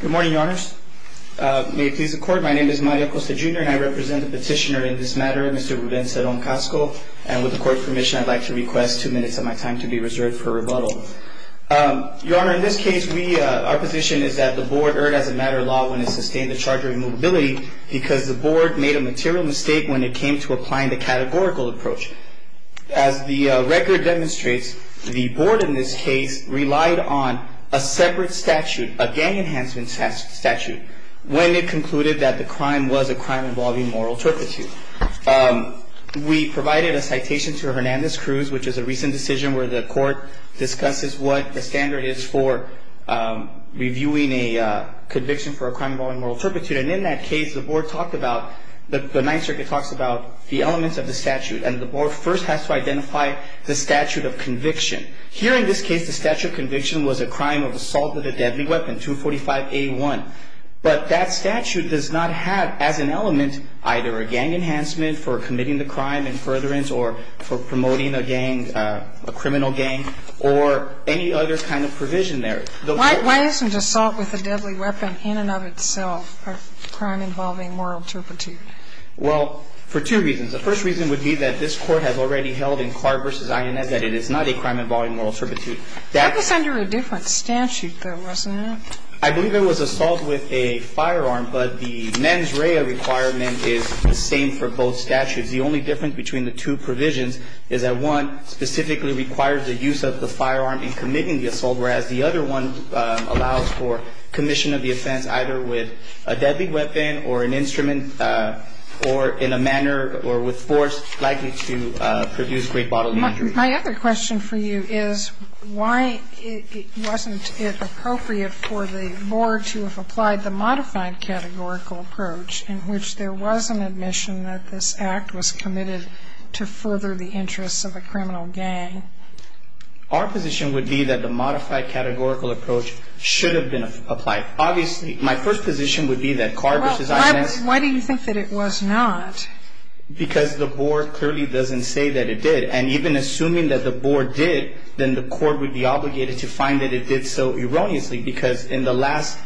Good morning, Your Honors. May it please the Court, my name is Mario Costa Jr. and I represent the petitioner in this matter, Mr. Ruben Ceron-Casco. And with the Court's permission, I'd like to request two minutes of my time to be reserved for rebuttal. Your Honor, in this case, our position is that the Board erred as a matter of law when it sustained the charge of immobility because the Board made a material mistake when it came to applying the categorical approach. As the record demonstrates, the Board in this case relied on a separate statute, a gang enhancement statute, when it concluded that the crime was a crime involving moral turpitude. We provided a citation to Hernandez-Cruz, which is a recent decision where the Court discusses what the standard is for reviewing a conviction for a crime involving moral turpitude. And in that case, the Board talked about, the Ninth Circuit talks about the elements of the statute and the Board first has to identify the statute of conviction. Here in this case, the statute of conviction was a crime of assault with a deadly weapon, 245A1. But that statute does not have as an element either a gang enhancement for committing the crime in furtherance or for promoting a gang, a criminal gang, or any other kind of provision there. Why isn't assault with a deadly weapon in and of itself a crime involving moral turpitude? Well, for two reasons. The first reason would be that this Court has already held in Carr v. INS that it is not a crime involving moral turpitude. That was under a different statute, though, wasn't it? I believe it was assault with a firearm, but the mens rea requirement is the same for both statutes. The only difference between the two provisions is that one specifically requires the use of the firearm in committing the assault, whereas the other one allows for commission of the offense either with a deadly weapon or an instrument or in a manner or with force likely to produce great bodily injury. My other question for you is why wasn't it appropriate for the Board to have applied the modified categorical approach in which there was an admission that this Act was committed to further the interests of a criminal gang? Our position would be that the modified categorical approach should have been applied. Obviously, my first position would be that Carr v. INS Well, why do you think that it was not? Because the Board clearly doesn't say that it did. And even assuming that the Board did, then the Court would be obligated to find that it did so erroneously because in the last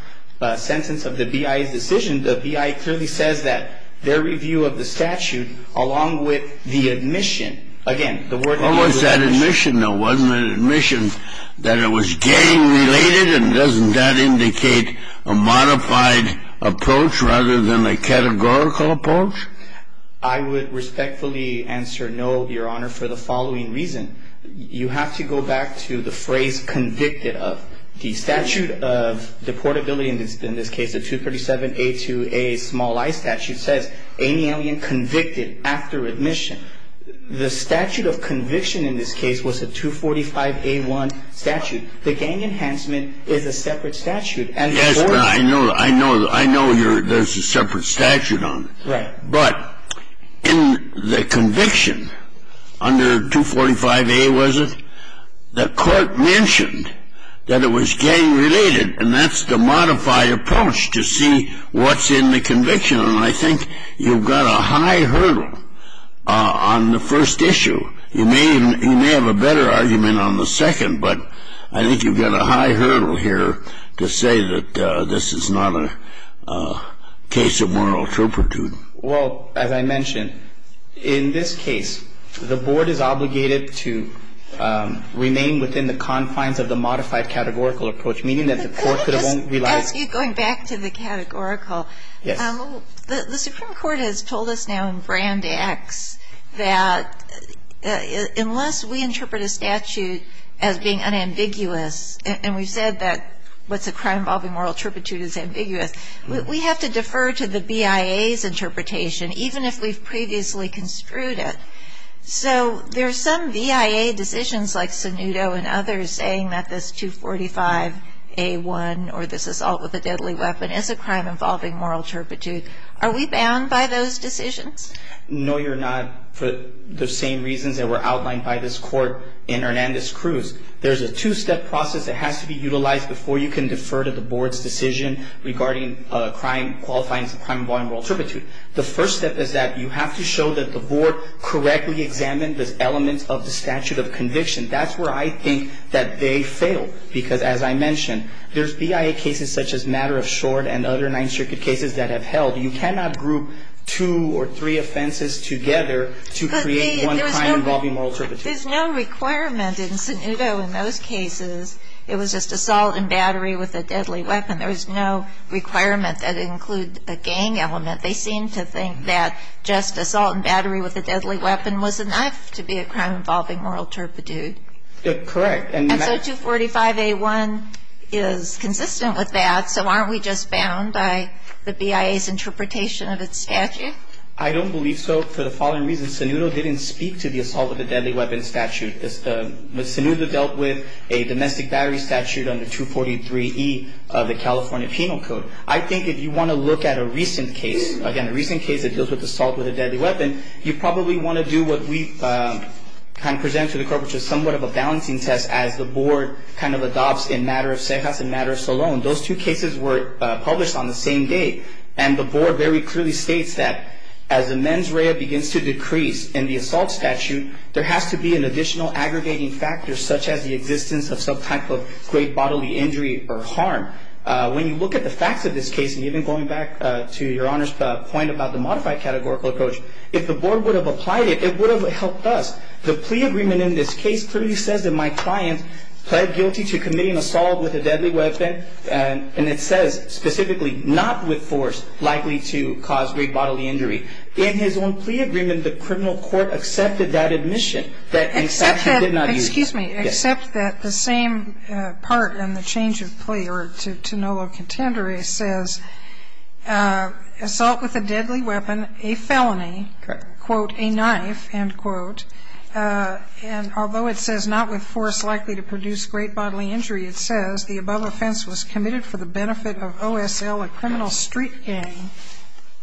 sentence of the BIA's decision, the BIA clearly says that their review of the statute along with the admission, again the word What was that admission though? Wasn't it an admission that it was gang related? And doesn't that indicate a modified approach rather than a categorical approach? I would respectfully answer no, Your Honor, for the following reason. You have to go back to the phrase convicted of. The statute of deportability in this case, the 237A2A small i statute, says any alien convicted after admission. The statute of conviction in this case was a 245A1 statute. The gang enhancement is a separate statute. Yes, but I know there's a separate statute on it. Right. But in the conviction under 245A, was it? The Court mentioned that it was gang related, and that's the modified approach to see what's in the conviction. And I think you've got a high hurdle on the first issue. You may have a better argument on the second, but I think you've got a high hurdle here to say that this is not a case of moral turpitude. Well, as I mentioned, in this case, the Board is obligated to remain within the confines of the modified categorical approach, meaning that the Court could have only relied I'll ask you, going back to the categorical. Yes. The Supreme Court has told us now in brand X that unless we interpret a statute as being unambiguous, and we've said that what's a crime involving moral turpitude is ambiguous, we have to defer to the BIA's interpretation, even if we've previously construed it. So there are some BIA decisions like Sunuto and others saying that this 245A1 or this assault with a deadly weapon is a crime involving moral turpitude. Are we bound by those decisions? No, you're not for the same reasons that were outlined by this Court in Hernandez-Cruz. There's a two-step process that has to be utilized before you can defer to the Board's decision regarding qualifying as a crime involving moral turpitude. The first step is that you have to show that the Board correctly examined the elements of the statute of conviction. That's where I think that they failed, because as I mentioned, there's BIA cases such as Matter of Short and other Ninth Circuit cases that have held. You cannot group two or three offenses together to create one crime involving moral turpitude. There's no requirement in Sunuto in those cases. It was just assault and battery with a deadly weapon. There was no requirement that it include a gang element. They seem to think that just assault and battery with a deadly weapon was enough to be a crime involving moral turpitude. Correct. And so 245A1 is consistent with that. So aren't we just bound by the BIA's interpretation of its statute? I don't believe so for the following reasons. Sunuto didn't speak to the assault with a deadly weapon statute. Sunuto dealt with a domestic battery statute under 243E of the California Penal Code. I think if you want to look at a recent case, again, a recent case that deals with assault with a deadly weapon, you probably want to do what we kind of presented to the corporate, which is somewhat of a balancing test as the board kind of adopts in Matter of Cejas and Matter of Solon. Those two cases were published on the same day, and the board very clearly states that as the mens rea begins to decrease in the assault statute, there has to be an additional aggregating factor such as the existence of some type of great bodily injury or harm. When you look at the facts of this case, and even going back to Your Honor's point about the modified categorical approach, if the board would have applied it, it would have helped us. The plea agreement in this case clearly says that my client pled guilty to committing assault with a deadly weapon, and it says specifically not with force likely to cause great bodily injury. In his own plea agreement, the criminal court accepted that admission. Excuse me. Accept that the same part in the change of plea or to no low contender says assault with a deadly weapon, a felony. Correct. Quote, a knife, end quote. And although it says not with force likely to produce great bodily injury, it says the above offense was committed for the benefit of OSL, a criminal street gang.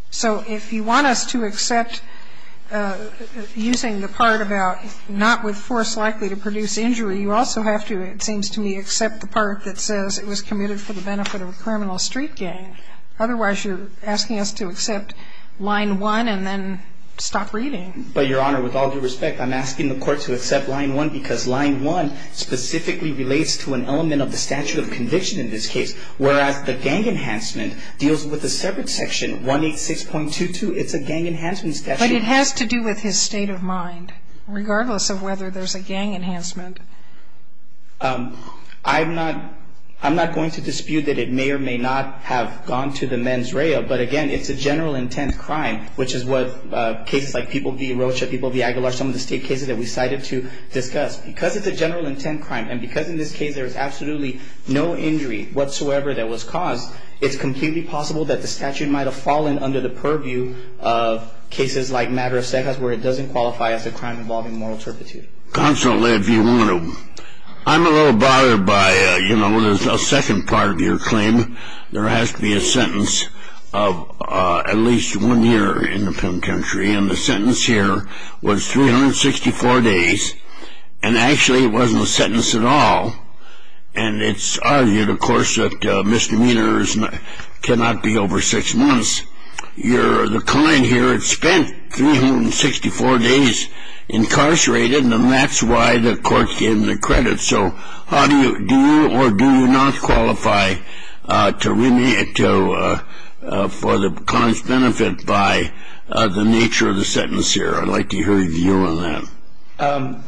So if you want us to accept using the part about not with force likely to produce injury, you also have to, it seems to me, accept the part that says it was committed for the benefit of a criminal street gang. Otherwise, you're asking us to accept line 1 and then stop reading. But, Your Honor, with all due respect, I'm asking the court to accept line 1 because line 1 specifically relates to an element of the statute of conviction in this case, whereas the gang enhancement deals with a separate section, 186.22. It's a gang enhancement statute. But it has to do with his state of mind, regardless of whether there's a gang enhancement. I'm not going to dispute that it may or may not have gone to the men's rail, but, again, it's a general intent crime, which is what cases like People v. Rocha, People v. Aguilar, some of the state cases that we cited to discuss. Because it's a general intent crime and because in this case there is absolutely no injury whatsoever that was caused, it's completely possible that the statute might have fallen under the purview of cases like Matter of Secrets where it doesn't qualify as a crime involving moral turpitude. Counsel, if you want to, I'm a little bothered by, you know, the second part of your claim. There has to be a sentence of at least one year in the penitentiary, and the sentence here was 364 days, and actually it wasn't a sentence at all. And it's argued, of course, that misdemeanors cannot be over six months. The client here had spent 364 days incarcerated, and that's why the court gave him the credit. So do you or do you not qualify for the client's benefit by the nature of the sentence here? I'd like to hear your view on that.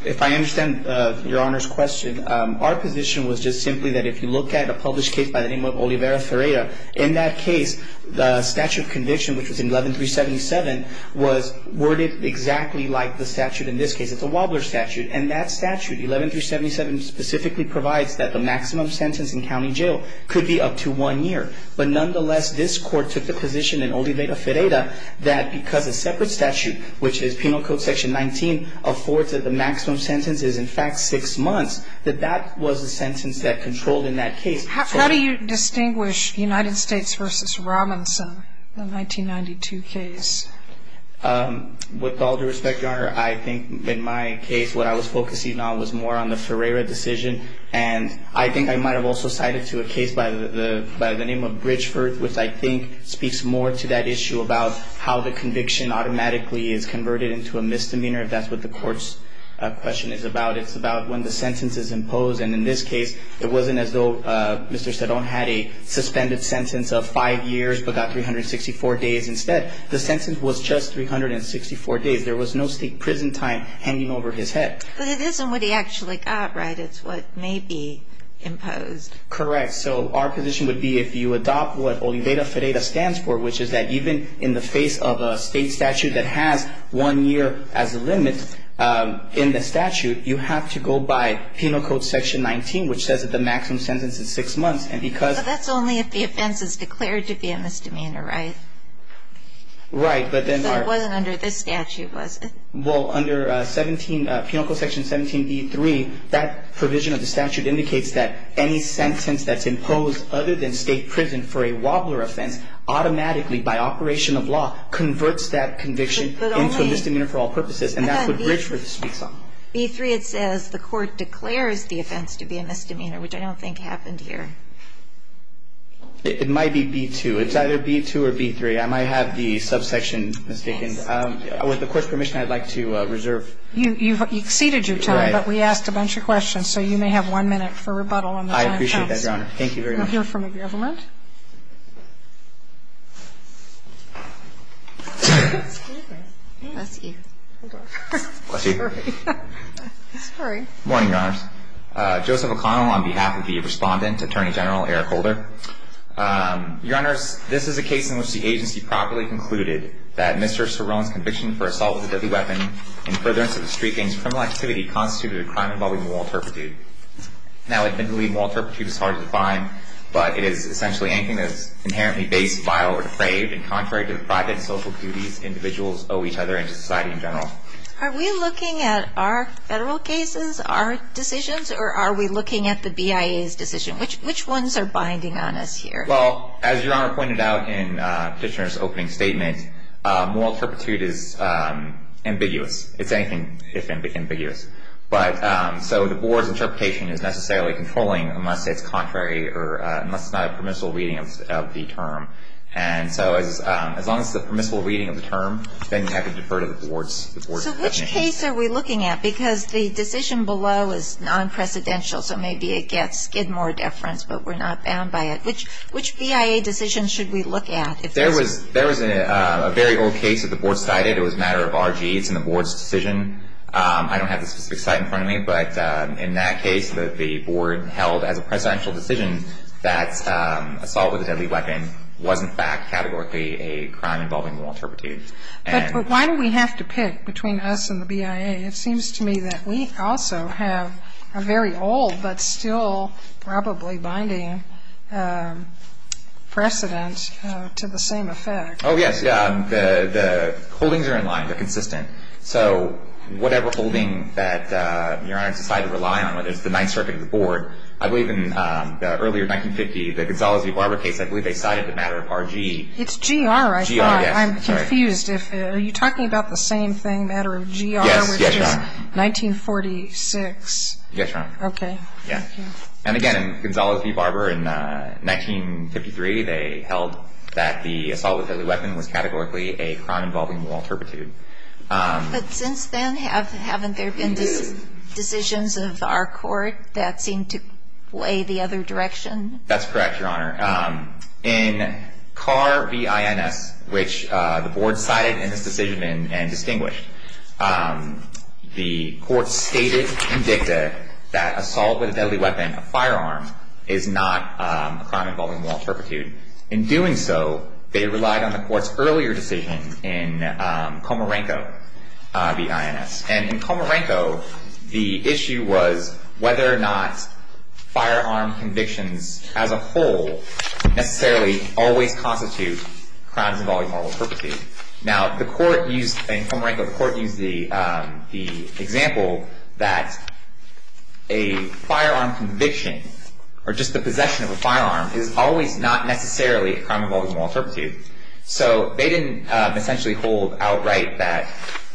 If I understand Your Honor's question, our position was just simply that if you look at a published case by the name of Olivera Ferreira, in that case the statute of conviction, which was in 11-377, was worded exactly like the statute in this case. It's a Wobbler statute, and that statute, 11-377, specifically provides that the maximum sentence in county jail could be up to one year. But nonetheless, this court took the position in Olivera Ferreira that because a separate statute, which is Penal Code Section 19, affords that the maximum sentence is in fact six months, that that was the sentence that controlled in that case. How do you distinguish United States v. Robinson, the 1992 case? With all due respect, Your Honor, I think in my case what I was focusing on was more on the Ferreira decision, and I think I might have also cited to a case by the name of Bridgeford, which I think speaks more to that issue about how the conviction automatically is converted into a misdemeanor, if that's what the court's question is about. It's about when the sentence is imposed, and in this case it wasn't as though Mr. Seddon had a suspended sentence of five years but got 364 days instead. The sentence was just 364 days. There was no state prison time hanging over his head. But it isn't what he actually got, right? It's what may be imposed. Correct. So our position would be if you adopt what Olivera Ferreira stands for, which is that even in the face of a state statute that has one year as a limit in the statute, you have to go by Penal Code Section 19, which says that the maximum sentence is six months. But that's only if the offense is declared to be a misdemeanor, right? Right. So it wasn't under this statute, was it? Well, under 17, Penal Code Section 17b3, that provision of the statute indicates that any sentence that's imposed other than state prison for a wobbler offense automatically, by operation of law, converts that conviction into a misdemeanor for all purposes. And that's what Bridgeford speaks on. But only, but then, b3, it says the court declares the offense to be a misdemeanor, which I don't think happened here. It might be b2. It's either b2 or b3. I might have the subsection mistaken. With the Court's permission, I'd like to reserve. You've exceeded your time, but we asked a bunch of questions, so you may have one minute for rebuttal on the time. I appreciate that, Your Honor. Thank you very much. We'll hear from the government. Bless you. Bless you. Sorry. Morning, Your Honors. Joseph O'Connell on behalf of the Respondent, Attorney General Eric Holder. Your Honors, this is a case in which the agency properly concluded that Mr. Cerone's conviction for assault with a deadly weapon in furtherance of the street gang's criminal activity constituted a crime involving moral turpitude. Now, I think the word moral turpitude is hard to define, but it is essentially anything that is inherently base, vile, or depraved, and contrary to the private and social duties individuals owe each other and to society in general. Are we looking at our federal cases, our decisions, or are we looking at the BIA's decision? Which ones are binding on us here? Well, as Your Honor pointed out in Kitchener's opening statement, moral turpitude is ambiguous. It's anything if ambiguous. But so the board's interpretation is necessarily controlling unless it's contrary or unless it's not a permissible reading of the term. And so as long as it's a permissible reading of the term, then you have to defer to the board's definition. So which case are we looking at? Because the decision below is non-precedential, so maybe it gets more deference, but we're not bound by it. Which BIA decision should we look at? There was a very old case that the board cited. It was a matter of R.G. It's in the board's decision. I don't have the specific site in front of me, but in that case, the board held as a precedential decision that assault with a deadly weapon was, in fact, categorically a crime involving moral turpitude. But why do we have to pick between us and the BIA? It seems to me that we also have a very old but still probably binding precedent to the same effect. Oh, yes. The holdings are in line. They're consistent. So whatever holding that Your Honor has decided to rely on, whether it's the Ninth Circuit or the board, I believe in the earlier 1950, the Gonzales v. Barber case, I believe they cited the matter of R.G. It's G.R., I thought. G.R., yes. I'm confused. Are you talking about the same thing, matter of G.R.? Yes. Yes, Your Honor. 1946. Yes, Your Honor. Okay. Yeah. And again, Gonzales v. Barber in 1953, they held that the assault with a deadly weapon was categorically a crime involving moral turpitude. But since then, haven't there been decisions of our court that seem to play the other direction? That's correct, Your Honor. In Carr v. INS, which the board cited in this decision and distinguished, the court stated and dicta that assault with a deadly weapon, a firearm, is not a crime involving moral turpitude. In doing so, they relied on the court's earlier decision in Comarenco v. INS. And in Comarenco, the issue was whether or not firearm convictions as a whole necessarily always constitute crimes involving moral turpitude. Now, the court used, in Comarenco, the court used the example that a firearm conviction or just the possession of a firearm is always not necessarily a crime involving moral turpitude. So they didn't essentially hold outright that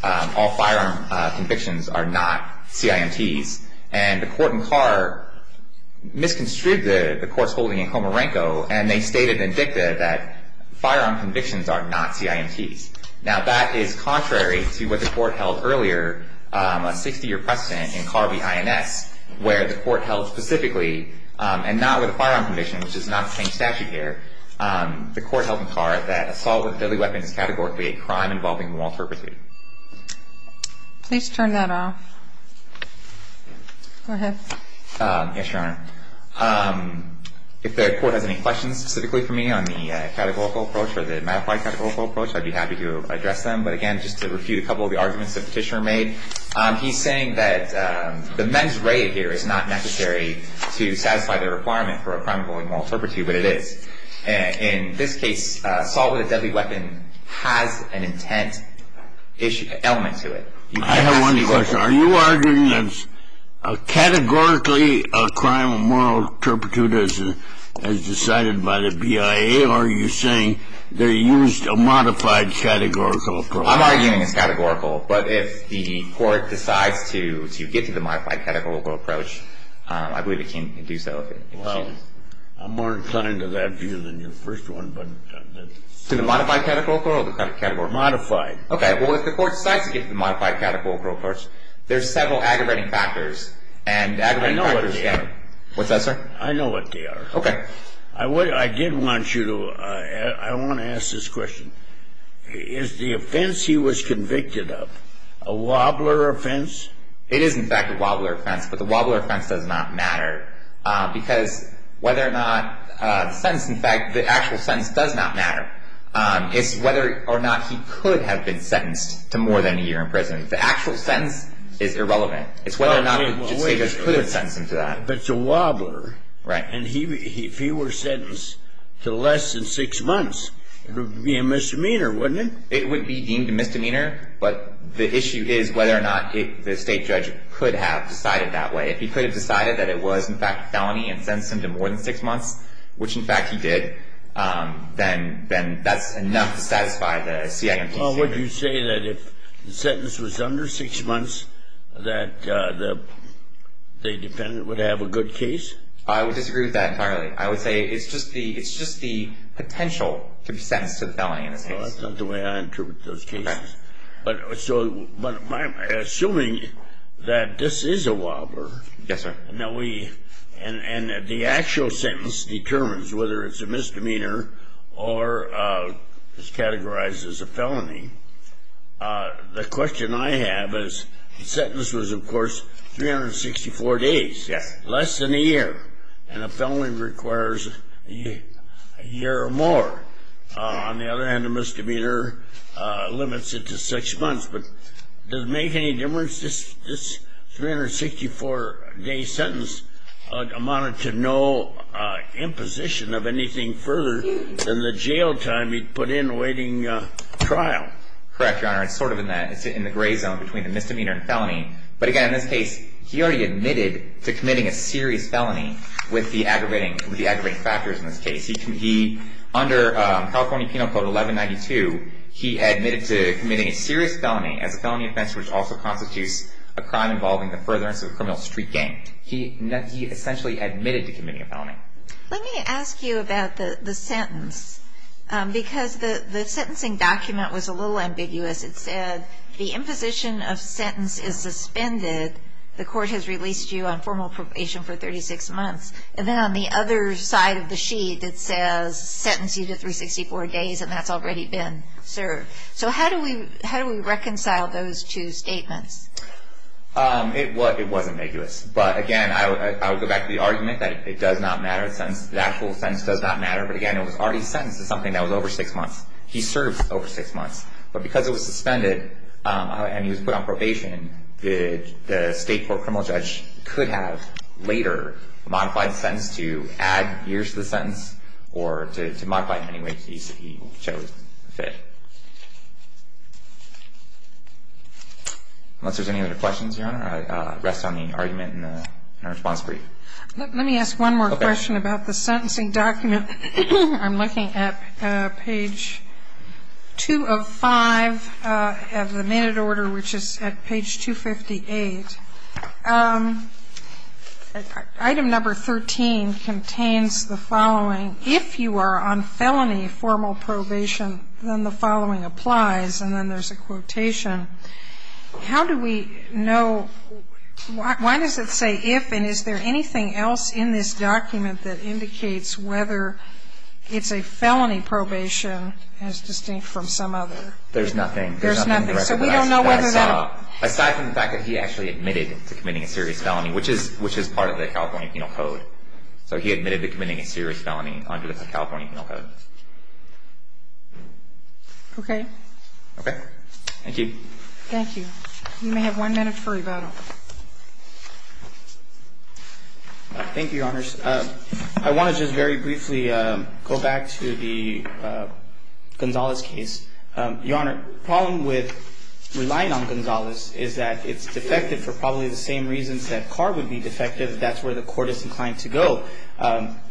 all firearm convictions are not CIMTs. And the court in Carr misconstrued the court's holding in Comarenco, and they stated and dicta that firearm convictions are not CIMTs. Now, that is contrary to what the court held earlier, a 60-year precedent in Carr v. INS, where the court held specifically, and not with a firearm conviction, which is not the same statute here, the court held in Carr that assault with a deadly weapon is categorically a crime involving moral turpitude. Please turn that off. Go ahead. Yes, Your Honor. If the court has any questions specifically for me on the categorical approach or the mattified categorical approach, I'd be happy to address them. But again, just to refute a couple of the arguments the petitioner made, he's saying that the mens rea here is not necessary to satisfy the requirement for a crime involving moral turpitude, but it is. In this case, assault with a deadly weapon has an intent element to it. I have one question. Are you arguing that it's categorically a crime of moral turpitude as decided by the BIA, or are you saying they used a modified categorical approach? I'm arguing it's categorical. But if the court decides to get to the modified categorical approach, I believe it can do so. Well, I'm more inclined to that view than your first one. To the modified categorical or the categorical? Modified. Okay. Well, if the court decides to get to the modified categorical approach, there's several aggravating factors. I know what they are. What's that, sir? I know what they are. Okay. I did want to ask this question. Is the offense he was convicted of a wobbler offense? It is, in fact, a wobbler offense, but the wobbler offense does not matter because whether or not the sentence, in fact, the actual sentence does not matter. It's whether or not he could have been sentenced to more than a year in prison. The actual sentence is irrelevant. It's whether or not the state judge could have sentenced him to that. But it's a wobbler. Right. And if he were sentenced to less than six months, it would be a misdemeanor, wouldn't it? It would be deemed a misdemeanor, but the issue is whether or not the state judge could have decided that way. If he could have decided that it was, in fact, a felony and sentenced him to more than six months, which, in fact, he did, then that's enough to satisfy the CIMTC. Well, would you say that if the sentence was under six months that the defendant would have a good case? I would disagree with that entirely. I would say it's just the potential to be sentenced to the felony in this case. Well, that's not the way I interpret those cases. Correct. Assuming that this is a wobbler and the actual sentence determines whether it's a misdemeanor or is categorized as a felony, the question I have is the sentence was, of course, 364 days, less than a year, and a felony requires a year or more. On the other hand, a misdemeanor limits it to six months. But does it make any difference? This 364-day sentence amounted to no imposition of anything further than the jail time he put in awaiting trial. Correct, Your Honor. It's sort of in the gray zone between the misdemeanor and felony. But, again, in this case, he already admitted to committing a serious felony with the aggravating factors in this case. Under California Penal Code 1192, he admitted to committing a serious felony as a felony offense, which also constitutes a crime involving the furtherance of a criminal street gang. He essentially admitted to committing a felony. Let me ask you about the sentence, because the sentencing document was a little ambiguous. It said the imposition of sentence is suspended. The court has released you on formal probation for 36 months. And then on the other side of the sheet, it says sentence you to 364 days, and that's already been served. So how do we reconcile those two statements? It was ambiguous. But, again, I would go back to the argument that it does not matter. The actual sentence does not matter. But, again, it was already sentenced to something that was over six months. He served over six months. But because it was suspended and he was put on probation, the state court could have later modified the sentence to add years to the sentence or to modify it in any way he chose to fit. Unless there's any other questions, Your Honor, I rest on the argument in our response brief. Let me ask one more question about the sentencing document. I'm looking at page 205 of the minute order, which is at page 258. Item number 13 contains the following. If you are on felony formal probation, then the following applies. And then there's a quotation. How do we know why does it say if, and is there anything else in this document that indicates whether it's a felony probation as distinct from some other? There's nothing. There's nothing. So we don't know whether that. Aside from the fact that he actually admitted to committing a serious felony, which is part of the California Penal Code. So he admitted to committing a serious felony under the California Penal Code. Okay. Okay. Thank you. Thank you. You may have one minute for rebuttal. Thank you, Your Honors. I want to just very briefly go back to the Gonzalez case. Your Honor, the problem with relying on Gonzalez is that it's defective for probably the same reasons that Carr would be defective. That's where the court is inclined to go.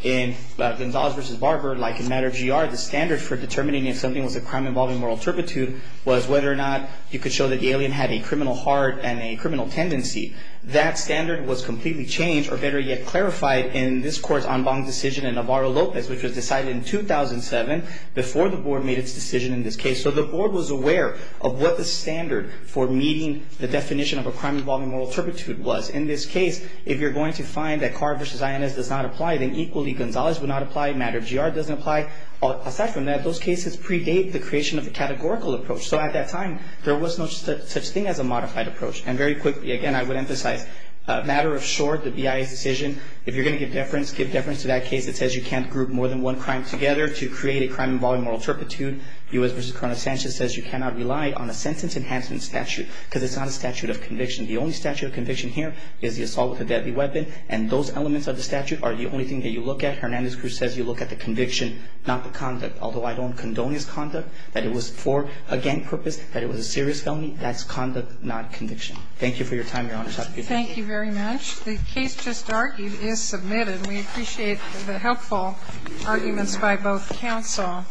In Gonzalez v. Barber, like in matter of GR, the standard for determining if something was a crime involving moral turpitude was whether or not you could show that the alien had a criminal heart and a criminal tendency. That standard was completely changed, or better yet, clarified in this court's en banc decision in Navarro-Lopez, which was decided in 2007 before the board made its decision in this case. So the board was aware of what the standard for meeting the definition of a crime involving moral turpitude was. In this case, if you're going to find that Carr v. INS does not apply, then equally Gonzalez would not apply, matter of GR doesn't apply. Aside from that, those cases predate the creation of a categorical approach. So at that time, there was no such thing as a modified approach. And very quickly, again, I would emphasize, matter of short, the BIA's decision, if you're going to give deference, give deference to that case that says you can't group more than one crime together to create a crime involving moral turpitude. U.S. v. Coronel Sanchez says you cannot rely on a sentence enhancement statute because it's not a statute of conviction. The only statute of conviction here is the assault with a deadly weapon, and those elements of the statute are the only thing that you look at. Hernandez-Cruz says you look at the conviction, not the conduct. Although I don't condone his conduct, that it was for a gang purpose, that it was a serious felony, that's conduct, not conviction. Thank you for your time, Your Honor. Thank you. Thank you very much. The case just argued is submitted. We appreciate the helpful arguments by both counsel.